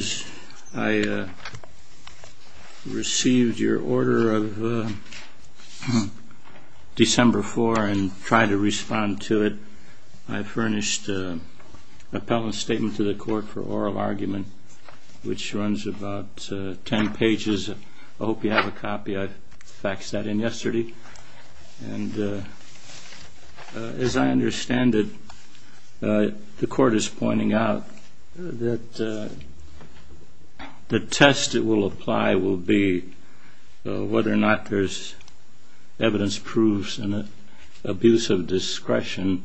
As I received your order of December 4 and tried to respond to it, I furnished an appellant statement to the court for oral argument, which runs about 10 pages. I hope you have a copy. I faxed that in yesterday. And as I understand it, the court is pointing out that the test that will apply will be whether or not there's evidence proofs in the abuse of discretion.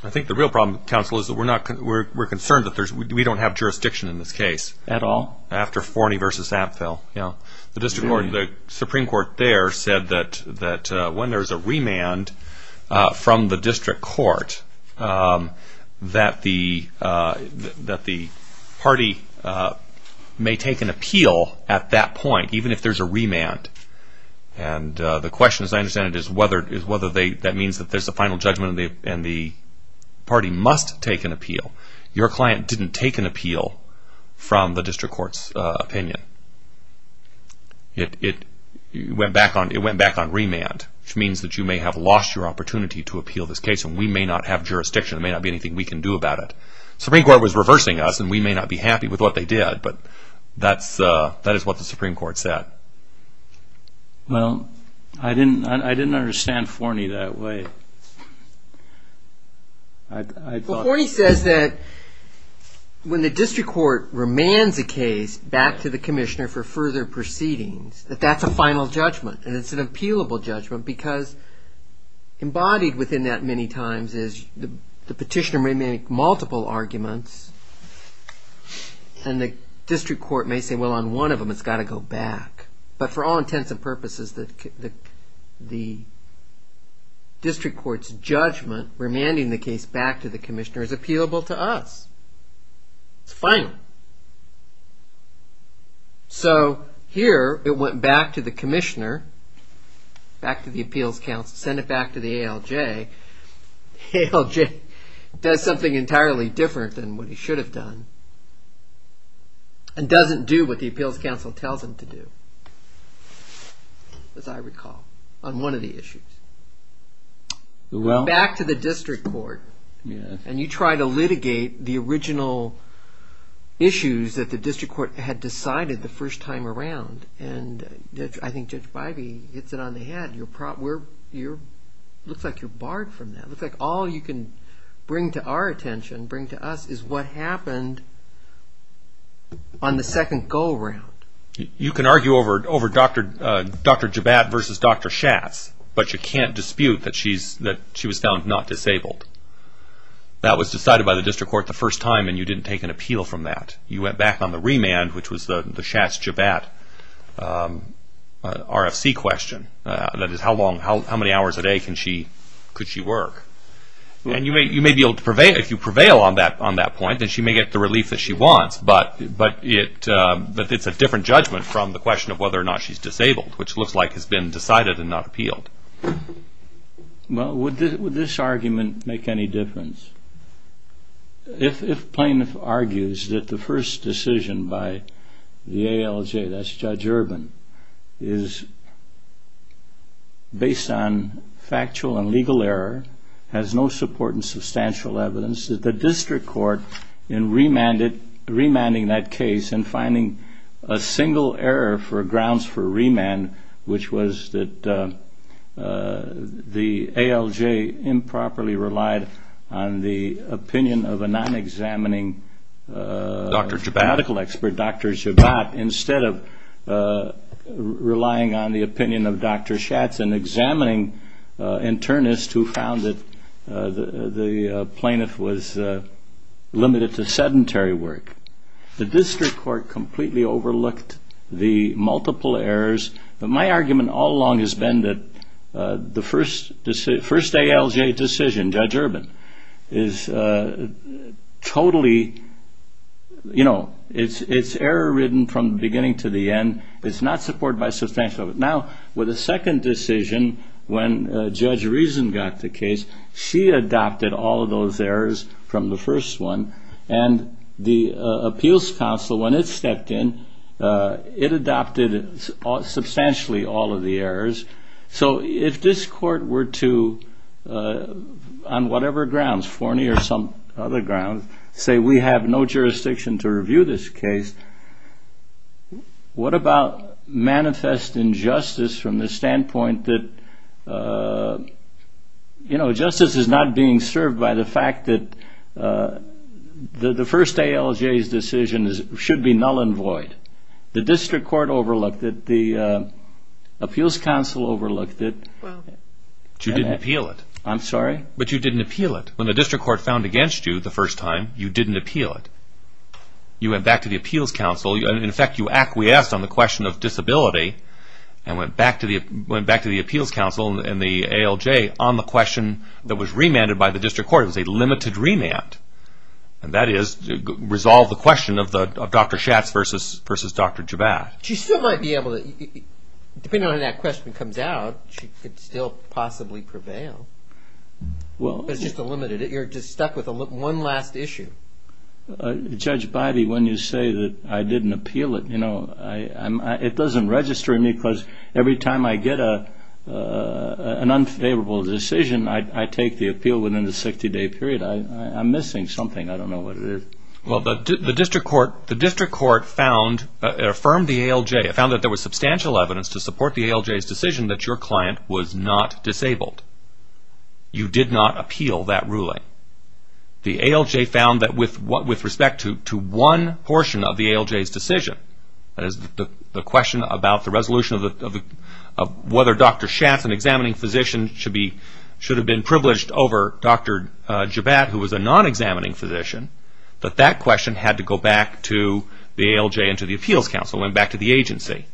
I think the real problem, counsel, is that we're concerned that we don't have jurisdiction in this case. At all? No, after Forney v. Apfel. The Supreme Court there said that when there's a remand from the district court, that the party may take an appeal at that point, even if there's a remand. And the question, as I understand it, is whether that means that there's a final judgment and the party must take an appeal. Your client didn't take an appeal from the district court's opinion. It went back on remand, which means that you may have lost your opportunity to appeal this case and we may not have jurisdiction. There may not be anything we can do about it. The Supreme Court was reversing us and we may not be happy with what they did, but that is what the Supreme Court said. Well, I didn't understand Forney that way. Well, Forney says that when the district court remands a case back to the commissioner for further proceedings, that that's a final judgment and it's an appealable judgment because embodied within that many times is the petitioner may make multiple arguments and the district court may say, well, on one of them, it's got to go back. But for all intents and purposes, the district court's judgment remanding the case back to the commissioner is appealable to us. It's final. So here it went back to the commissioner, back to the appeals counsel, sent it back to the ALJ, ALJ does something entirely different than what he should have done and doesn't do what the appeals counsel tells him to do, as I recall, on one of the issues. Back to the district court and you try to litigate the original issues that the district court had decided the first time around and I think Judge Bivey hits it on the head, looks like you're barred from that, looks like all you can bring to our attention, bring to us is what happened on the second go around. You can argue over Dr. Jabbat versus Dr. Schatz, but you can't dispute that she was found not disabled. That was decided by the district court the first time and you didn't take an appeal from that. You went back on the remand, which was the Schatz-Jabbat RFC question, that is how many hours a day could she work? And you may be able to prevail, if you prevail on that point, then she may get the relief that she wants, but it's a different judgment from the question of whether or not she's disabled, which looks like has been decided and not appealed. Well, would this argument make any difference? If plaintiff argues that the first decision by the ALJ, that's Judge Urban, is based on legal error, has no support in substantial evidence, that the district court in remanding that case and finding a single error for grounds for remand, which was that the ALJ improperly relied on the opinion of a non-examining medical expert, Dr. Jabbat, instead of relying on the opinion of Dr. Schatz, an examining internist who found that the plaintiff was limited to sedentary work. The district court completely overlooked the multiple errors, but my argument all along has been that the first ALJ decision, Judge Urban, is totally, you know, it's error-ridden from the beginning to the end, it's not supported by substantial evidence. Now, with the second decision, when Judge Reason got the case, she adopted all of those errors from the first one, and the appeals counsel, when it stepped in, it adopted substantially all of the errors. So if this court were to, on whatever grounds, Forney or some other grounds, say we have no jurisdiction to review this case, what about manifest injustice from the standpoint that, you know, justice is not being served by the fact that the first ALJ's decision should be null and void. The district court overlooked it, the appeals counsel overlooked it. Well, you didn't appeal it. I'm sorry? But you didn't appeal it. When the district court found against you the first time, you didn't appeal it. You went back to the appeals counsel, and in fact you acquiesced on the question of disability and went back to the appeals counsel and the ALJ on the question that was remanded by the district court. It was a limited remand, and that is to resolve the question of Dr. Schatz versus Dr. Jabbat. She still might be able to, depending on how that question comes out, she could still possibly prevail. It's just a limited, you're just stuck with one last issue. Judge Bivey, when you say that I didn't appeal it, you know, it doesn't register in me because every time I get an unfavorable decision, I take the appeal within the 60-day period. I'm missing something, I don't know what it is. Well, the district court found, it affirmed the ALJ, it found that there was substantial evidence to support the ALJ's decision that your client was not disabled. You did not appeal that ruling. The ALJ found that with respect to one portion of the ALJ's decision, that is the question about the resolution of whether Dr. Schatz, an examining physician, should have been privileged over Dr. Jabbat, who was a non-examining physician, that that question had to go back to the ALJ and to the appeals council and back to the agency.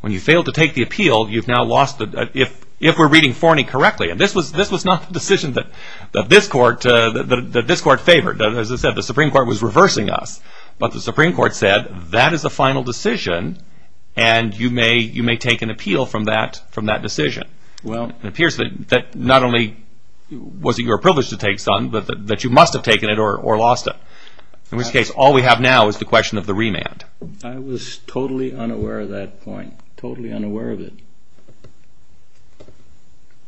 When you failed to take the appeal, you've now lost, if we're reading Forney correctly, and this was not a decision that this court favored, as I said, the Supreme Court was reversing us, but the Supreme Court said, that is a final decision and you may take an appeal from that decision. It appears that not only was it your privilege to take some, but that you must have taken it or lost it. In which case, all we have now is the question of the remand. I was totally unaware of that point, totally unaware of it.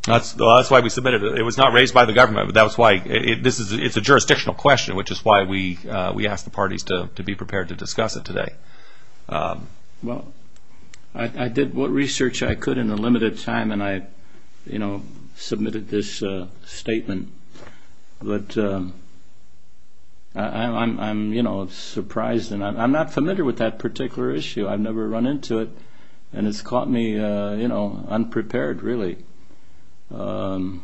That's why we submitted it. It was not raised by the government, but that's why, it's a jurisdictional question, which is why we asked the parties to be prepared to discuss it today. Well, I did what research I could in a limited time, and I submitted this statement, but I'm surprised, and I'm not familiar with that particular issue. I've never run into it, and it's caught me unprepared, really. Well,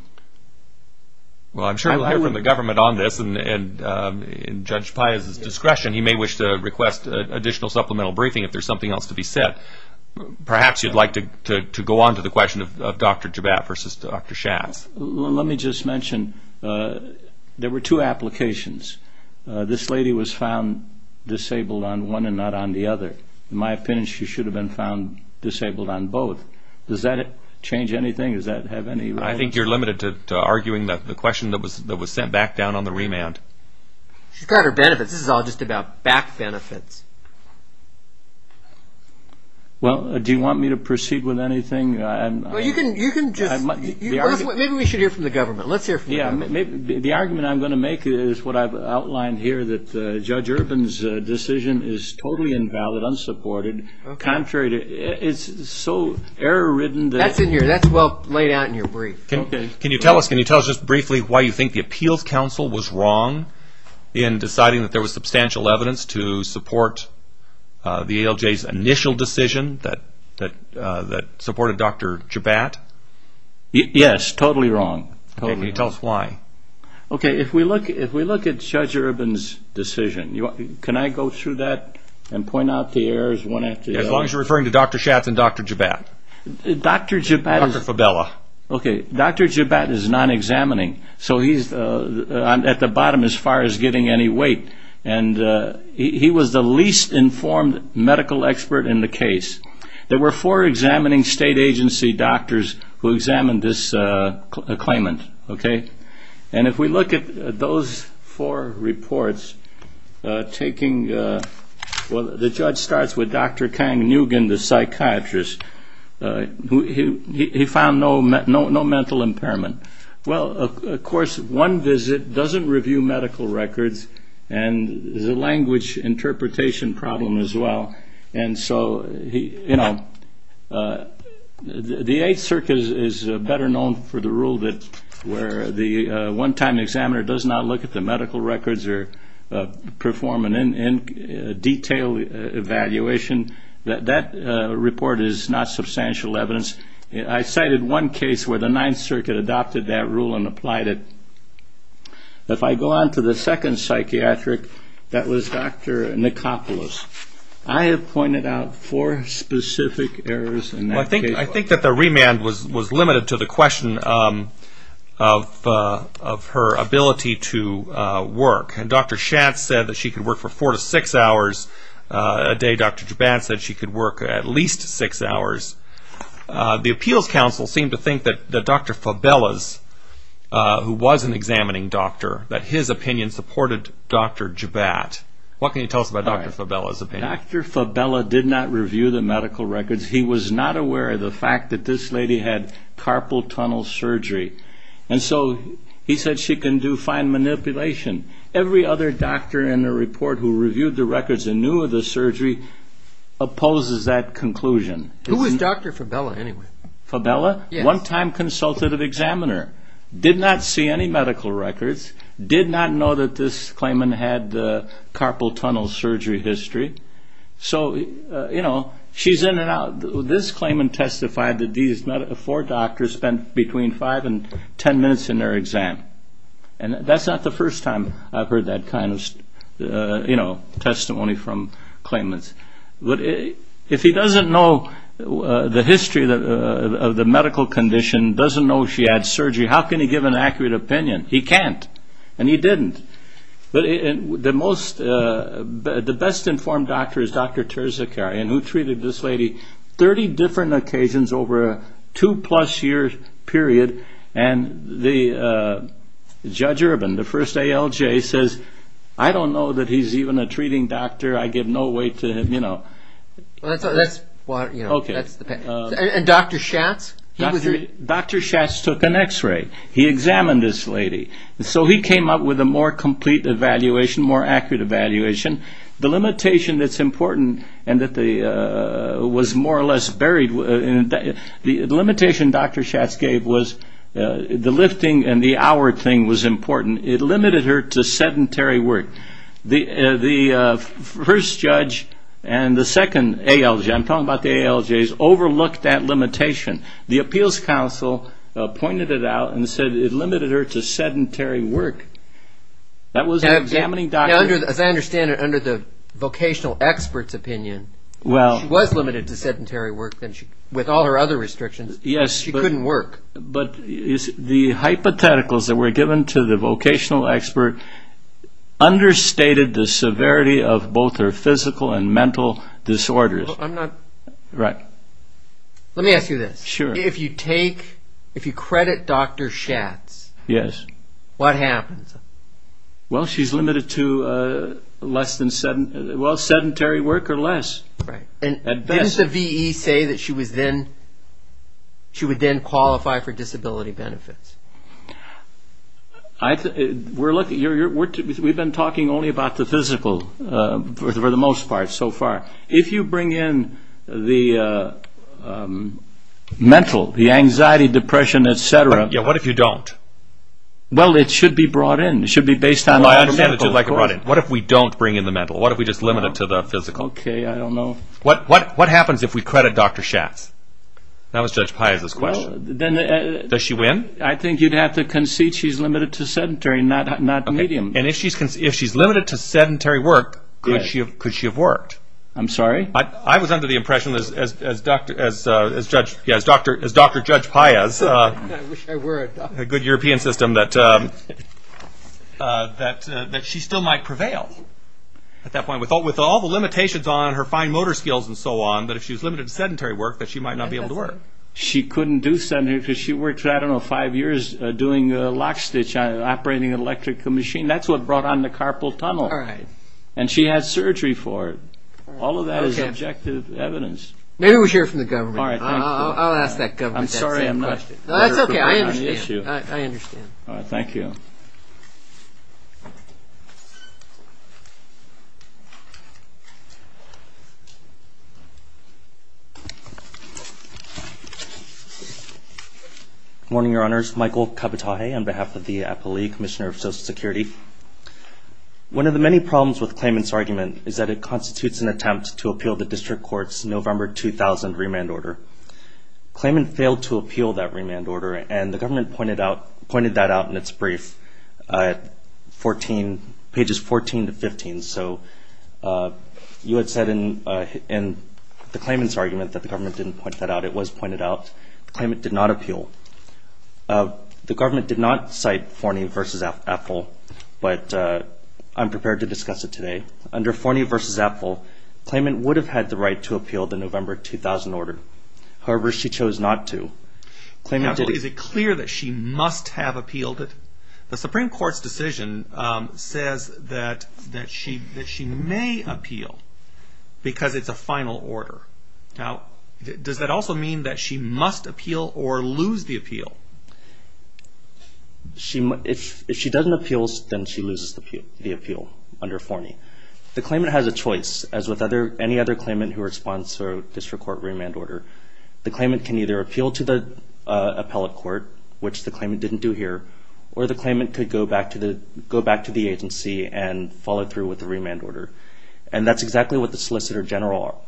I'm sure we'll hear from the government on this, and Judge Pius' discretion, he may wish to request additional supplemental briefing if there's something else to be said. Perhaps you'd like to go on to the question of Dr. Jabbat versus Dr. Schatz. Let me just mention, there were two applications. This lady was found disabled on one and not on the other. In my opinion, she should have been found disabled on both. Does that change anything? Does that have any relevance? I think you're limited to arguing the question that was sent back down on the remand. She's got her benefits. This is all just about back benefits. Well, do you want me to proceed with anything? Maybe we should hear from the government. Let's hear from the government. The argument I'm going to make is what I've outlined here, that Judge Urban's decision is totally invalid, unsupported, contrary to... It's so error-ridden that... That's well laid out in your brief. Can you tell us just briefly why you think the Appeals Council was wrong in deciding that there was substantial evidence to support the ALJ's initial decision that supported Dr. Jabbat? Yes. Totally wrong. Totally wrong. Can you tell us why? Okay. If we look at Judge Urban's decision, can I go through that and point out the errors one after the other? As long as you're referring to Dr. Schatz and Dr. Jabbat. Dr. Jabbat is... Dr. Fabella. Okay. Dr. Jabbat is non-examining. He's at the bottom as far as getting any weight. He was the least informed medical expert in the case. There were four examining state agency doctors who examined this claimant. If we look at those four reports, taking... The judge starts with Dr. Kang Nugent, the psychiatrist. He found no mental impairment. Well, of course, one visit doesn't review medical records, and there's a language interpretation problem as well. The 8th Circus is better known for the rule where the one-time examiner does not look at the medical records or perform an in-detail evaluation. That report is not substantial evidence. I cited one case where the 9th Circuit adopted that rule and applied it. If I go on to the second psychiatric, that was Dr. Nikopoulos. I have pointed out four specific errors in that case. I think that the remand was limited to the question of her ability to work. Dr. Schatz said that she could work for four to six hours a day. Dr. Jabbat said she could work at least six hours. The appeals council seemed to think that Dr. Fabella's, who was an examining doctor, that his opinion supported Dr. Jabbat. What can you tell us about Dr. Fabella's opinion? Dr. Fabella did not review the medical records. He was not aware of the fact that this lady had carpal tunnel surgery. And so he said she can do fine manipulation. Every other doctor in the report who reviewed the records and knew of the surgery opposes that conclusion. Who was Dr. Fabella anyway? Fabella? One-time consultative examiner. Did not see any medical records. Did not know that this claimant had carpal tunnel surgery history. So you know, she's in and out. This claimant testified that these four doctors spent between five and 10 minutes in their exam. And that's not the first time I've heard that kind of testimony from claimants. If he doesn't know the history of the medical condition, doesn't know she had surgery, how can he give an accurate opinion? He can't. And he didn't. But the most, the best informed doctor is Dr. Terzakarian who treated this lady 30 different occasions over a two-plus year period. And the Judge Urban, the first ALJ says, I don't know that he's even a treating doctor. I give no weight to him, you know. And Dr. Schatz? Dr. Schatz took an x-ray. He examined this lady. So he came up with a more complete evaluation, more accurate evaluation. The limitation that's important and that was more or less buried, the limitation Dr. Schatz gave was the lifting and the hour thing was important. It limited her to sedentary work. The first judge and the second ALJ, I'm talking about the ALJs, overlooked that limitation. The Appeals Council pointed it out and said it limited her to sedentary work. That was an examining doctor. Now as I understand it, under the vocational expert's opinion, she was limited to sedentary work with all her other restrictions. She couldn't work. But the hypotheticals that were given to the vocational expert understated the severity of both her physical and mental disorders. I'm not... Right. Let me ask you this. Sure. If you take, if you credit Dr. Schatz, what happens? Well she's limited to less than, well sedentary work or less. Right. Didn't the V.E. say that she would then qualify for disability benefits? We're looking, we've been talking only about the physical for the most part so far. If you bring in the mental, the anxiety, depression, etc. What if you don't? Well, it should be brought in. It should be based on... I understand that you'd like it brought in. What if we don't bring in the mental? What if we just limit it to the physical? Okay, I don't know. What happens if we credit Dr. Schatz? That was Judge Piazza's question. Does she win? I think you'd have to concede she's limited to sedentary, not medium. And if she's limited to sedentary work, could she have worked? I'm sorry? I was under the impression as Dr. Judge Piazza, a good European system, that she still might prevail at that point. With all the limitations on her fine motor skills and so on, that if she's limited to sedentary work, that she might not be able to work. She couldn't do sedentary because she worked for, I don't know, five years doing a lock stitch on an operating electrical machine. That's what brought on the carpal tunnel. And she had surgery for it. All of that is objective evidence. Maybe we should hear from the government. I'll ask that government that same question. I'm sorry I'm not. That's okay. I understand. I understand. All right, thank you. Good morning, Your Honors. Michael Capitale on behalf of the Appellee Commissioner of Social Security. One of the many problems with the claimant's argument is that it constitutes an attempt to appeal the district court's November 2000 remand order. The claimant failed to appeal that remand order, and the government pointed that out in its brief, pages 14 to 15. So you had said in the claimant's argument that the government didn't point that out. It was pointed out. The claimant did not appeal. The government did not cite Forney v. Appell, but I'm prepared to discuss it today. Under Forney v. Appell, the claimant would have had the right to appeal the November 2000 order. However, she chose not to. Is it clear that she must have appealed it? The Supreme Court's decision says that she may appeal because it's a final order. Does that also mean that she must appeal or lose the appeal? If she doesn't appeal, then she loses the appeal under Forney. The claimant has a choice. As with any other claimant who responds to a district court remand order, the claimant can either appeal to the appellate court, which the claimant didn't do here, or the claimant could go back to the agency and follow through with the remand order. That's exactly what the Solicitor General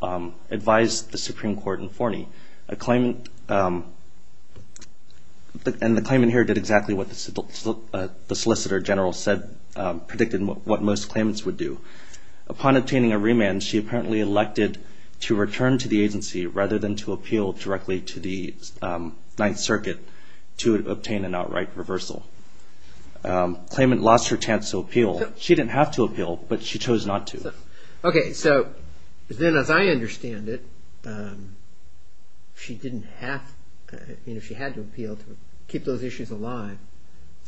advised the Supreme Court in Forney. The claimant here did exactly what the Solicitor General predicted what most claimants would do. Upon obtaining a remand, she apparently elected to return to the agency rather than to appeal directly to the Ninth Circuit to obtain an outright reversal. The claimant lost her chance to appeal. She didn't have to appeal, but she chose not to. As I understand it, she had to appeal to keep those issues alive.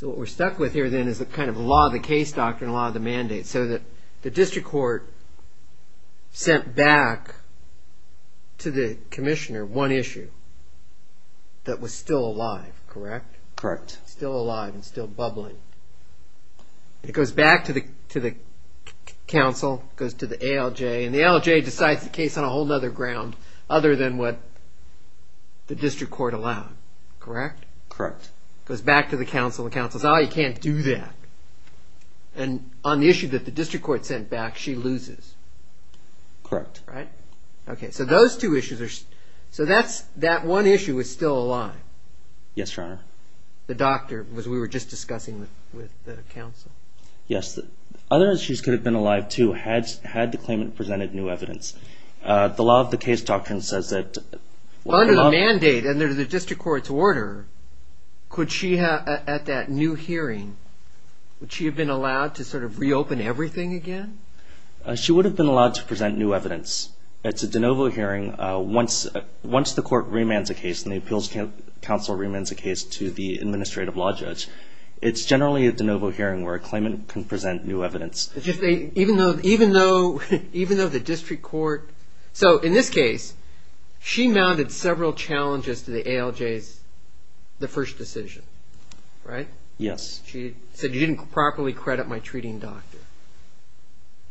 What we're stuck with here is the law of the case doctrine, law of the mandate. The district court sent back to the commissioner one issue that was still alive, correct? Correct. Still alive and still bubbling. It goes back to the council, goes to the ALJ, and the ALJ decides the case on a whole other ground other than what the district court allowed, correct? Correct. Goes back to the council and the council says, oh, you can't do that. And on the issue that the district court sent back, she loses. Correct. Right? Okay, so those two issues are... So that one issue is still alive? Yes, Your Honor. The doctor, which we were just discussing with the council? Yes. Other issues could have been alive, too, had the claimant presented new evidence. The law of the case doctrine says that... Under the mandate, under the district court's order, at that new hearing, would she have been allowed to sort of reopen everything again? She would have been allowed to present new evidence. It's a de novo hearing. Once the court remands a case and the appeals council remands a case to the administrative law judge, it's generally a de novo hearing where a claimant can present new evidence. Even though the district court... So in this case, she mounted several challenges to the ALJ's first decision, right? Yes. She said, you didn't properly credit my treating doctor.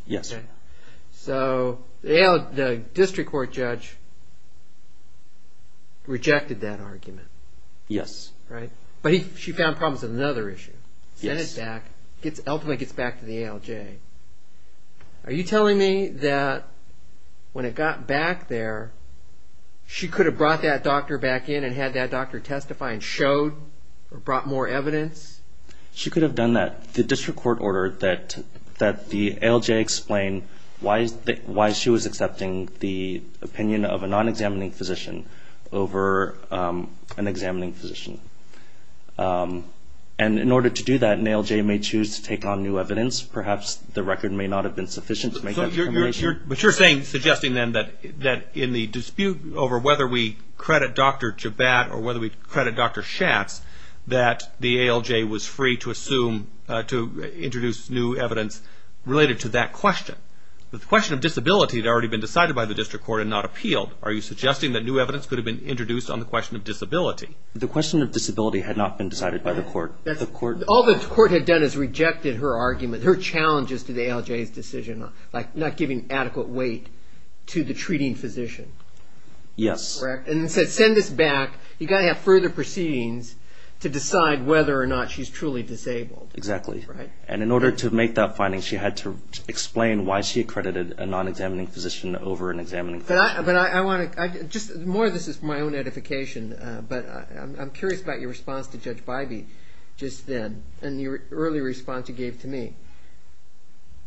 Yes. So the district court judge rejected that argument. Yes. Right? But she found problems with another issue. Yes. Sent it back, ultimately gets back to the ALJ. Are you telling me that when it got back there, she could have brought that doctor back in and had that doctor testify and showed or brought more evidence? She could have done that. The district court ordered that the ALJ explain why she was accepting the opinion of a non-examining physician over an examining physician. And in order to do that, an ALJ may choose to take on new evidence. Perhaps the record may not have been sufficient to make that determination. But you're suggesting then that in the dispute over whether we credit Dr. Jabbat or whether we credit Dr. Schatz, that the ALJ was free to assume, to introduce new evidence related to that question. The question of disability had already been decided by the district court and not appealed. Are you suggesting that new evidence could have been introduced on the question of disability? The question of disability had not been decided by the court. All the court had done is rejected her argument, her challenges to the ALJ's decision, like not giving adequate weight to the treating physician. Yes. Correct. And said, send this back. You've got to have further proceedings to decide whether or not she's truly disabled. Exactly. Right? And in order to make that finding, she had to explain why she accredited a non-examining physician over an examining physician. More of this is my own edification, but I'm curious about your response to Judge Bybee just then and the early response you gave to me.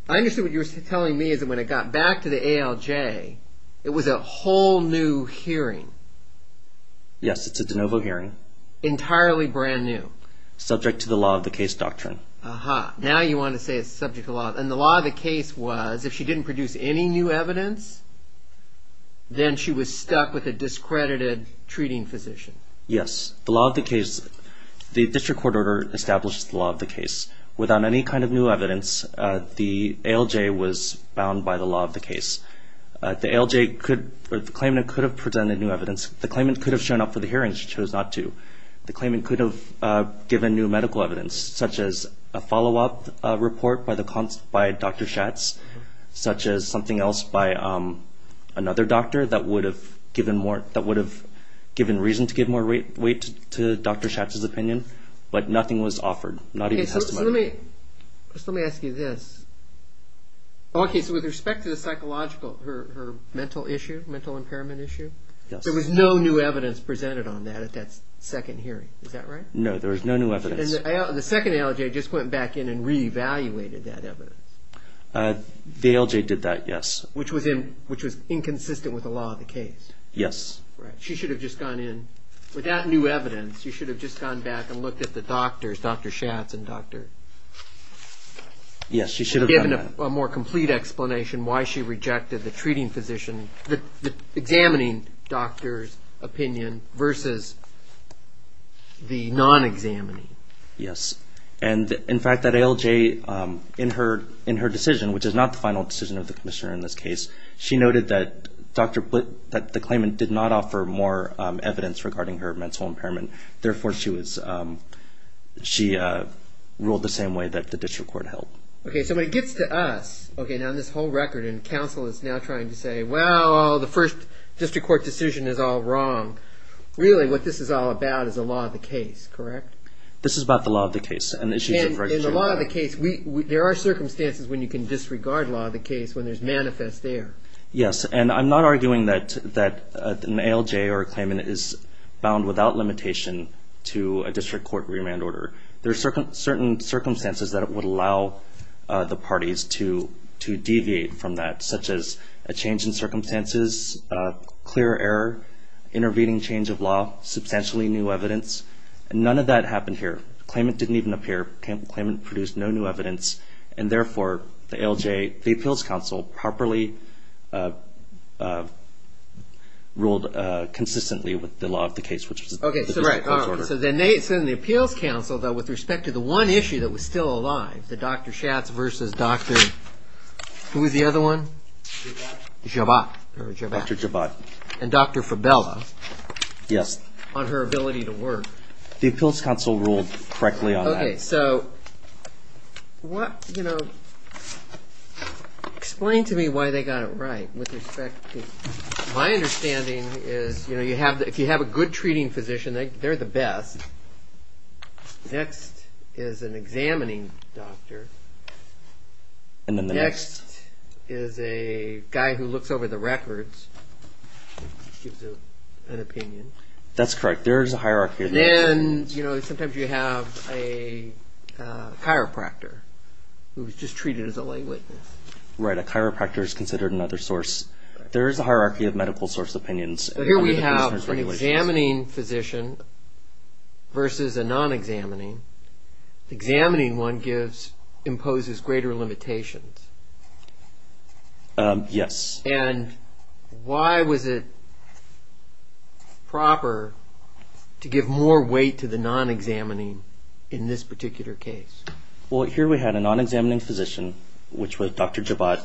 I understand what you're telling me is that when it got back to the ALJ, it was a whole new hearing. Yes, it's a de novo hearing. Entirely brand new. Subject to the law of the case doctrine. Aha. Now you want to say it's subject to law. And the law of the case was, if she didn't produce any new evidence, then she was stuck with a discredited treating physician. Yes. The law of the case, the district court order established the law of the case. Without any kind of new evidence, the ALJ was bound by the law of the case. The ALJ could, or the claimant could have presented new evidence. The claimant could have shown up for the hearing. She chose not to. The claimant could have given new medical evidence, such as a follow-up report by Dr. Schatz, such as something else by another doctor that would have given reason to give more weight to Dr. Schatz's opinion. But nothing was offered. Not even testimony. Okay, so let me ask you this. Okay, so with respect to the psychological, her mental issue, mental impairment issue, there was no new evidence presented on that at that second hearing. Is that right? No, there was no new evidence. And the second ALJ just went back in and re-evaluated that evidence. The ALJ did that, yes. Which was inconsistent with the law of the case. Yes. Right. She should have just gone in. Without new evidence, she should have just gone back and looked at the doctors, Dr. Schatz and Dr. Yes, she should have done that. And given a more complete explanation why she rejected the treating physician, the examining doctor's opinion versus the non-examining. Yes. And, in fact, that ALJ, in her decision, which is not the final decision of the commissioner in this case, she noted that the claimant did not offer more evidence regarding her mental impairment. Therefore, she ruled the same way that the district court held. Okay, so when it gets to us, okay, now this whole record and counsel is now trying to say, well, the first district court decision is all wrong. Really, what this is all about is the law of the case, correct? This is about the law of the case. And the law of the case, there are circumstances when you can disregard law of the case, when there's manifest error. Yes, and I'm not arguing that an ALJ or a claimant is bound without limitation to a district court remand order. There are certain circumstances that would allow the parties to deviate from that, such as a change in circumstances, clear error, intervening change of law, substantially new evidence. And none of that happened here. The claimant didn't even appear. The claimant produced no new evidence. And, therefore, the ALJ, the appeals counsel, properly ruled consistently with the law of the case, which is the district court's record. Okay, so then the appeals counsel, though, with respect to the one issue that was still alive, the Dr. Schatz versus Dr. who was the other one? Jabot. Jabot. Dr. Jabot. And Dr. Fabella. On her ability to work. The appeals counsel ruled correctly on that. Okay, so what, you know, explain to me why they got it right with respect to my understanding is, you know, if you have a good treating physician, they're the best. Next is an examining doctor. And then the next? Next is a guy who looks over the records, gives an opinion. That's correct. There is a hierarchy. And then, you know, sometimes you have a chiropractor who was just treated as a lay witness. Right, a chiropractor is considered another source. There is a hierarchy of medical source opinions. Here we have an examining physician versus a non-examining. The examining one gives, imposes greater limitations. Yes. And why was it proper to give more weight to the non-examining in this particular case? Well, here we had a non-examining physician, which was Dr. Jabot,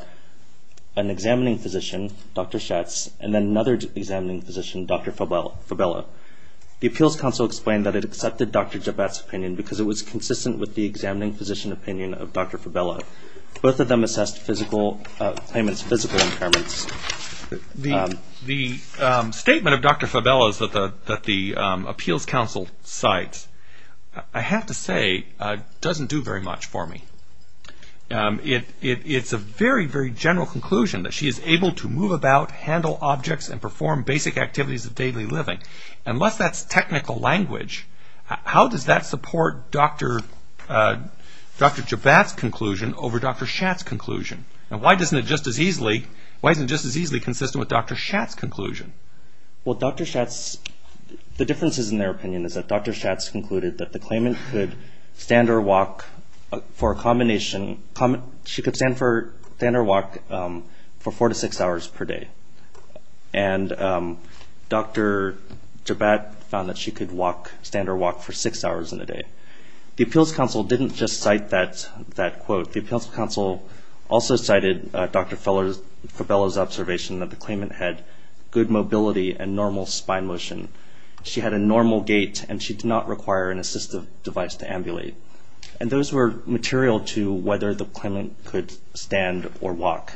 an examining physician, Dr. Schatz, and then another examining physician, Dr. Fabella. The appeals counsel explained that it accepted Dr. Jabot's opinion because it was consistent with the examining physician opinion of Dr. Fabella. Both of them assessed physical impairments. The statement of Dr. Fabella's that the appeals counsel cites, I have to say, doesn't do very much for me. It's a very, very general conclusion that she is able to move about, handle objects, and perform basic activities of daily living. Unless that's technical language, how does that support Dr. Jabot's conclusion over Dr. Schatz's conclusion? And why isn't it just as easily consistent with Dr. Schatz's conclusion? Well, Dr. Schatz, the differences in their opinion is that Dr. Schatz concluded that the claimant could stand or walk for a combination, she could stand or walk for four to six hours per day. And Dr. Jabot found that she could walk, stand or walk for six hours in a day. The appeals counsel didn't just cite that quote. The appeals counsel also cited Dr. Fabella's observation that the claimant had good mobility and normal spine motion. She had a normal gait and she did not require an assistive device to ambulate. And those were material to whether the claimant could stand or walk.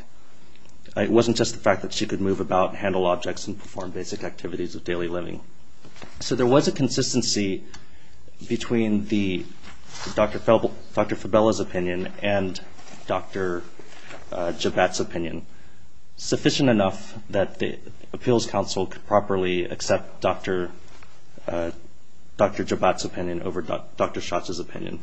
It wasn't just the fact that she could move about, handle objects, and perform basic activities of daily living. So there was a consistency between Dr. Fabella's opinion and Dr. Jabot's opinion, sufficient enough that the appeals counsel could properly accept Dr. Jabot's opinion over Dr. Schatz's opinion.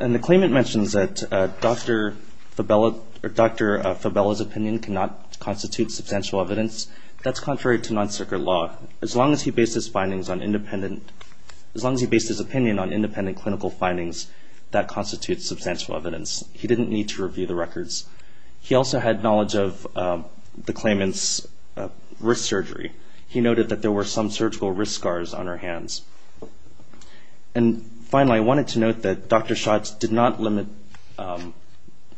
And the claimant mentions that Dr. Fabella's opinion cannot constitute substantial evidence. That's contrary to non-circuit law. As long as he based his opinion on independent clinical findings, that constitutes substantial evidence. He didn't need to review the records. He also had knowledge of the claimant's wrist surgery. He noted that there were some surgical wrist scars on her hands. And finally, I wanted to note that Dr. Schatz did not limit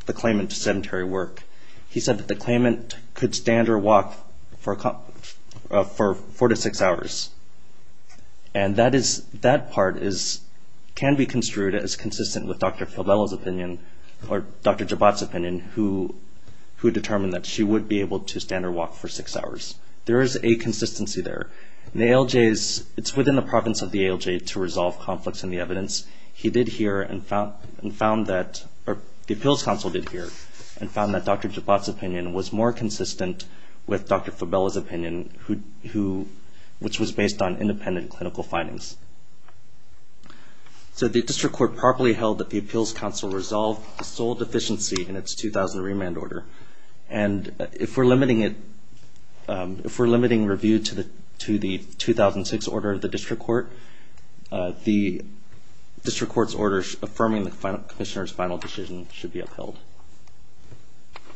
the claimant to sedentary work. He said that the claimant could stand or walk for four to six hours. And that part can be construed as consistent with Dr. Fabella's opinion or Dr. Jabot's opinion, who determined that she would be able to stand or walk for six hours. There is a consistency there. It's within the province of the ALJ to resolve conflicts in the evidence. The appeals counsel did here and found that Dr. Jabot's opinion was more consistent with Dr. Fabella's opinion, which was based on independent clinical findings. So the district court properly held that the appeals counsel resolved sole deficiency in its 2000 remand order. And if we're limiting it, if we're limiting review to the 2006 order of the district court, the district court's orders affirming the commissioner's final decision should be upheld.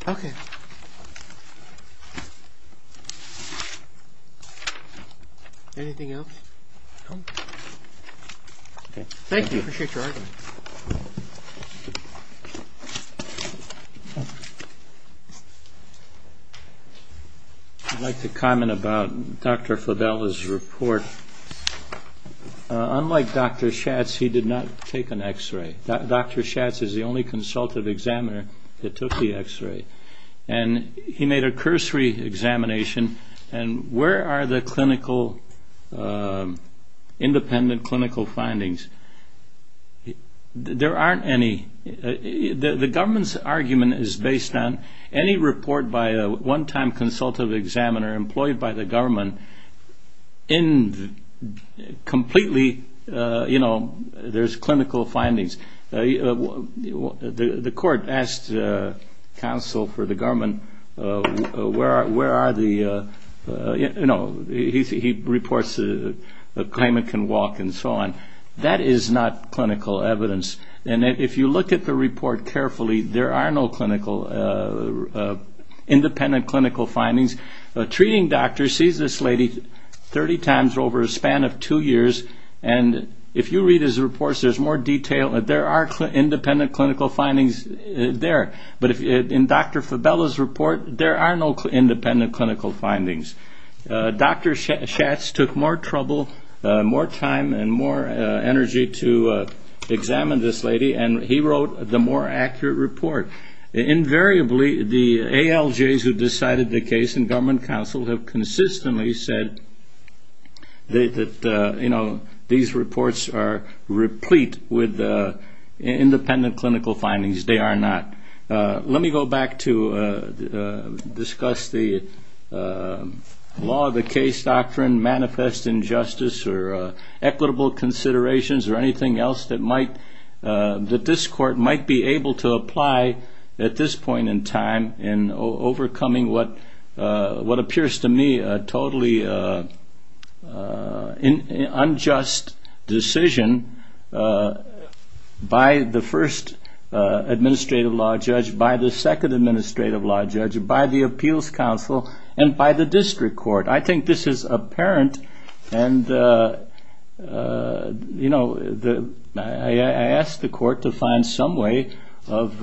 Okay. Anything else? Okay. Thank you. Appreciate your argument. I'd like to comment about Dr. Fabella's report. Unlike Dr. Schatz, he did not take an X-ray. Dr. Schatz is the only consultative examiner that took the X-ray. And he made a cursory examination. And where are the clinical, independent clinical findings? There aren't any. The government's argument is based on any report by a one-time consultative examiner employed by the government in completely, you know, there's clinical findings. The court asked counsel for the government, where are the, you know, he reports a claimant can walk and so on. That is not clinical evidence. And if you look at the report carefully, there are no clinical, independent clinical findings. A treating doctor sees this lady 30 times over a span of two years. And if you read his reports, there's more detail. There are independent clinical findings there. But in Dr. Fabella's report, there are no independent clinical findings. Dr. Schatz took more trouble, more time, and more energy to examine this lady. And he wrote the more accurate report. Invariably, the ALJs who decided the case and government counsel have consistently said that, you know, these reports are replete with independent clinical findings. They are not. Let me go back to discuss the law of the case doctrine, manifest injustice, or equitable considerations, or anything else that might, that this court might be able to apply at this point in time in overcoming what appears to me a totally unjust decision by the first administrative law judge, by the second administrative law judge, by the appeals counsel, and by the district court. I think this is apparent. And, you know, I ask the court to find some way of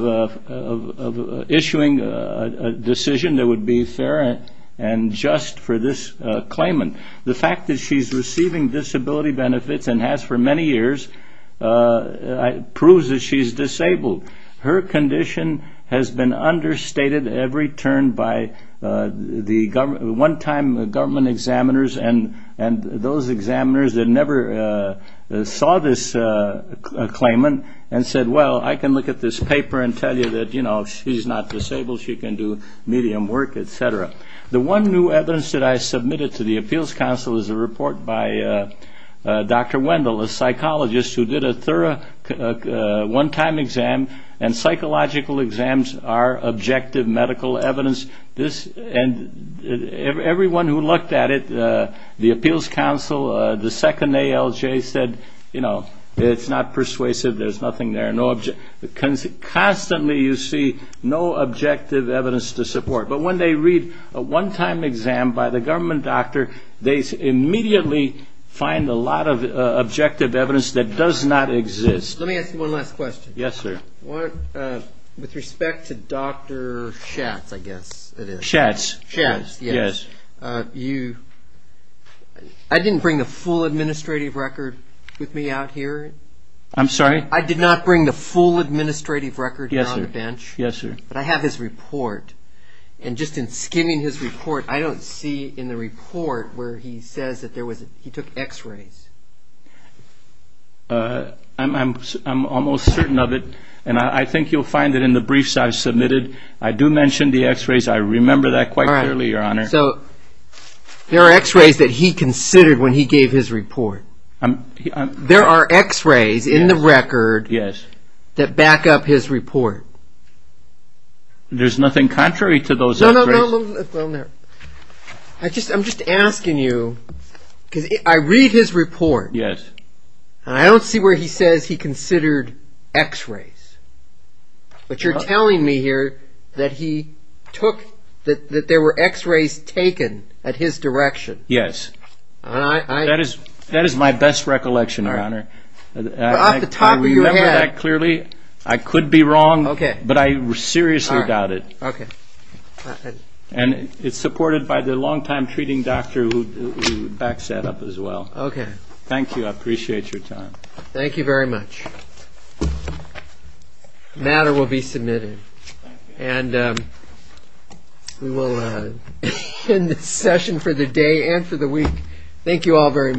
issuing a decision that would be fair and just for this claimant. The fact that she's receiving disability benefits and has for many years proves that she's disabled. Her condition has been understated every turn by the one-time government examiners and those examiners that never saw this claimant and said, well, I can look at this paper and tell you that, you know, she's not disabled, she can do medium work, et cetera. The one new evidence that I submitted to the appeals counsel is a report by Dr. Wendell, a psychologist, who did a thorough one-time exam, and psychological exams are objective medical evidence. And everyone who looked at it, the appeals counsel, the second ALJ, said, you know, it's not persuasive, there's nothing there. Constantly you see no objective evidence to support. But when they read a one-time exam by the government doctor, they immediately find a lot of objective evidence that does not exist. Let me ask you one last question. I didn't bring the full administrative record with me out here. I'm sorry? I did not bring the full administrative record on the bench. Yes, sir. But I have his report, and just in skimming his report, I don't see in the report where he says that he took x-rays. I'm almost certain of it, and I think you'll find it in the briefs I've submitted. I do mention the x-rays. I remember that quite clearly, Your Honor. So there are x-rays that he considered when he gave his report. There are x-rays in the record that back up his report. There's nothing contrary to those x-rays? No, no, no. I'm just asking you, because I read his report, and I don't see where he says he considered x-rays. But you're telling me here that there were x-rays taken at his direction? Yes. That is my best recollection, Your Honor. I remember that clearly. I could be wrong, but I seriously doubt it. And it's supported by the long-time treating doctor who backs that up as well. Thank you. I appreciate your time. Thank you very much. The matter will be submitted. And we will end this session for the day and for the week. Thank you all very much.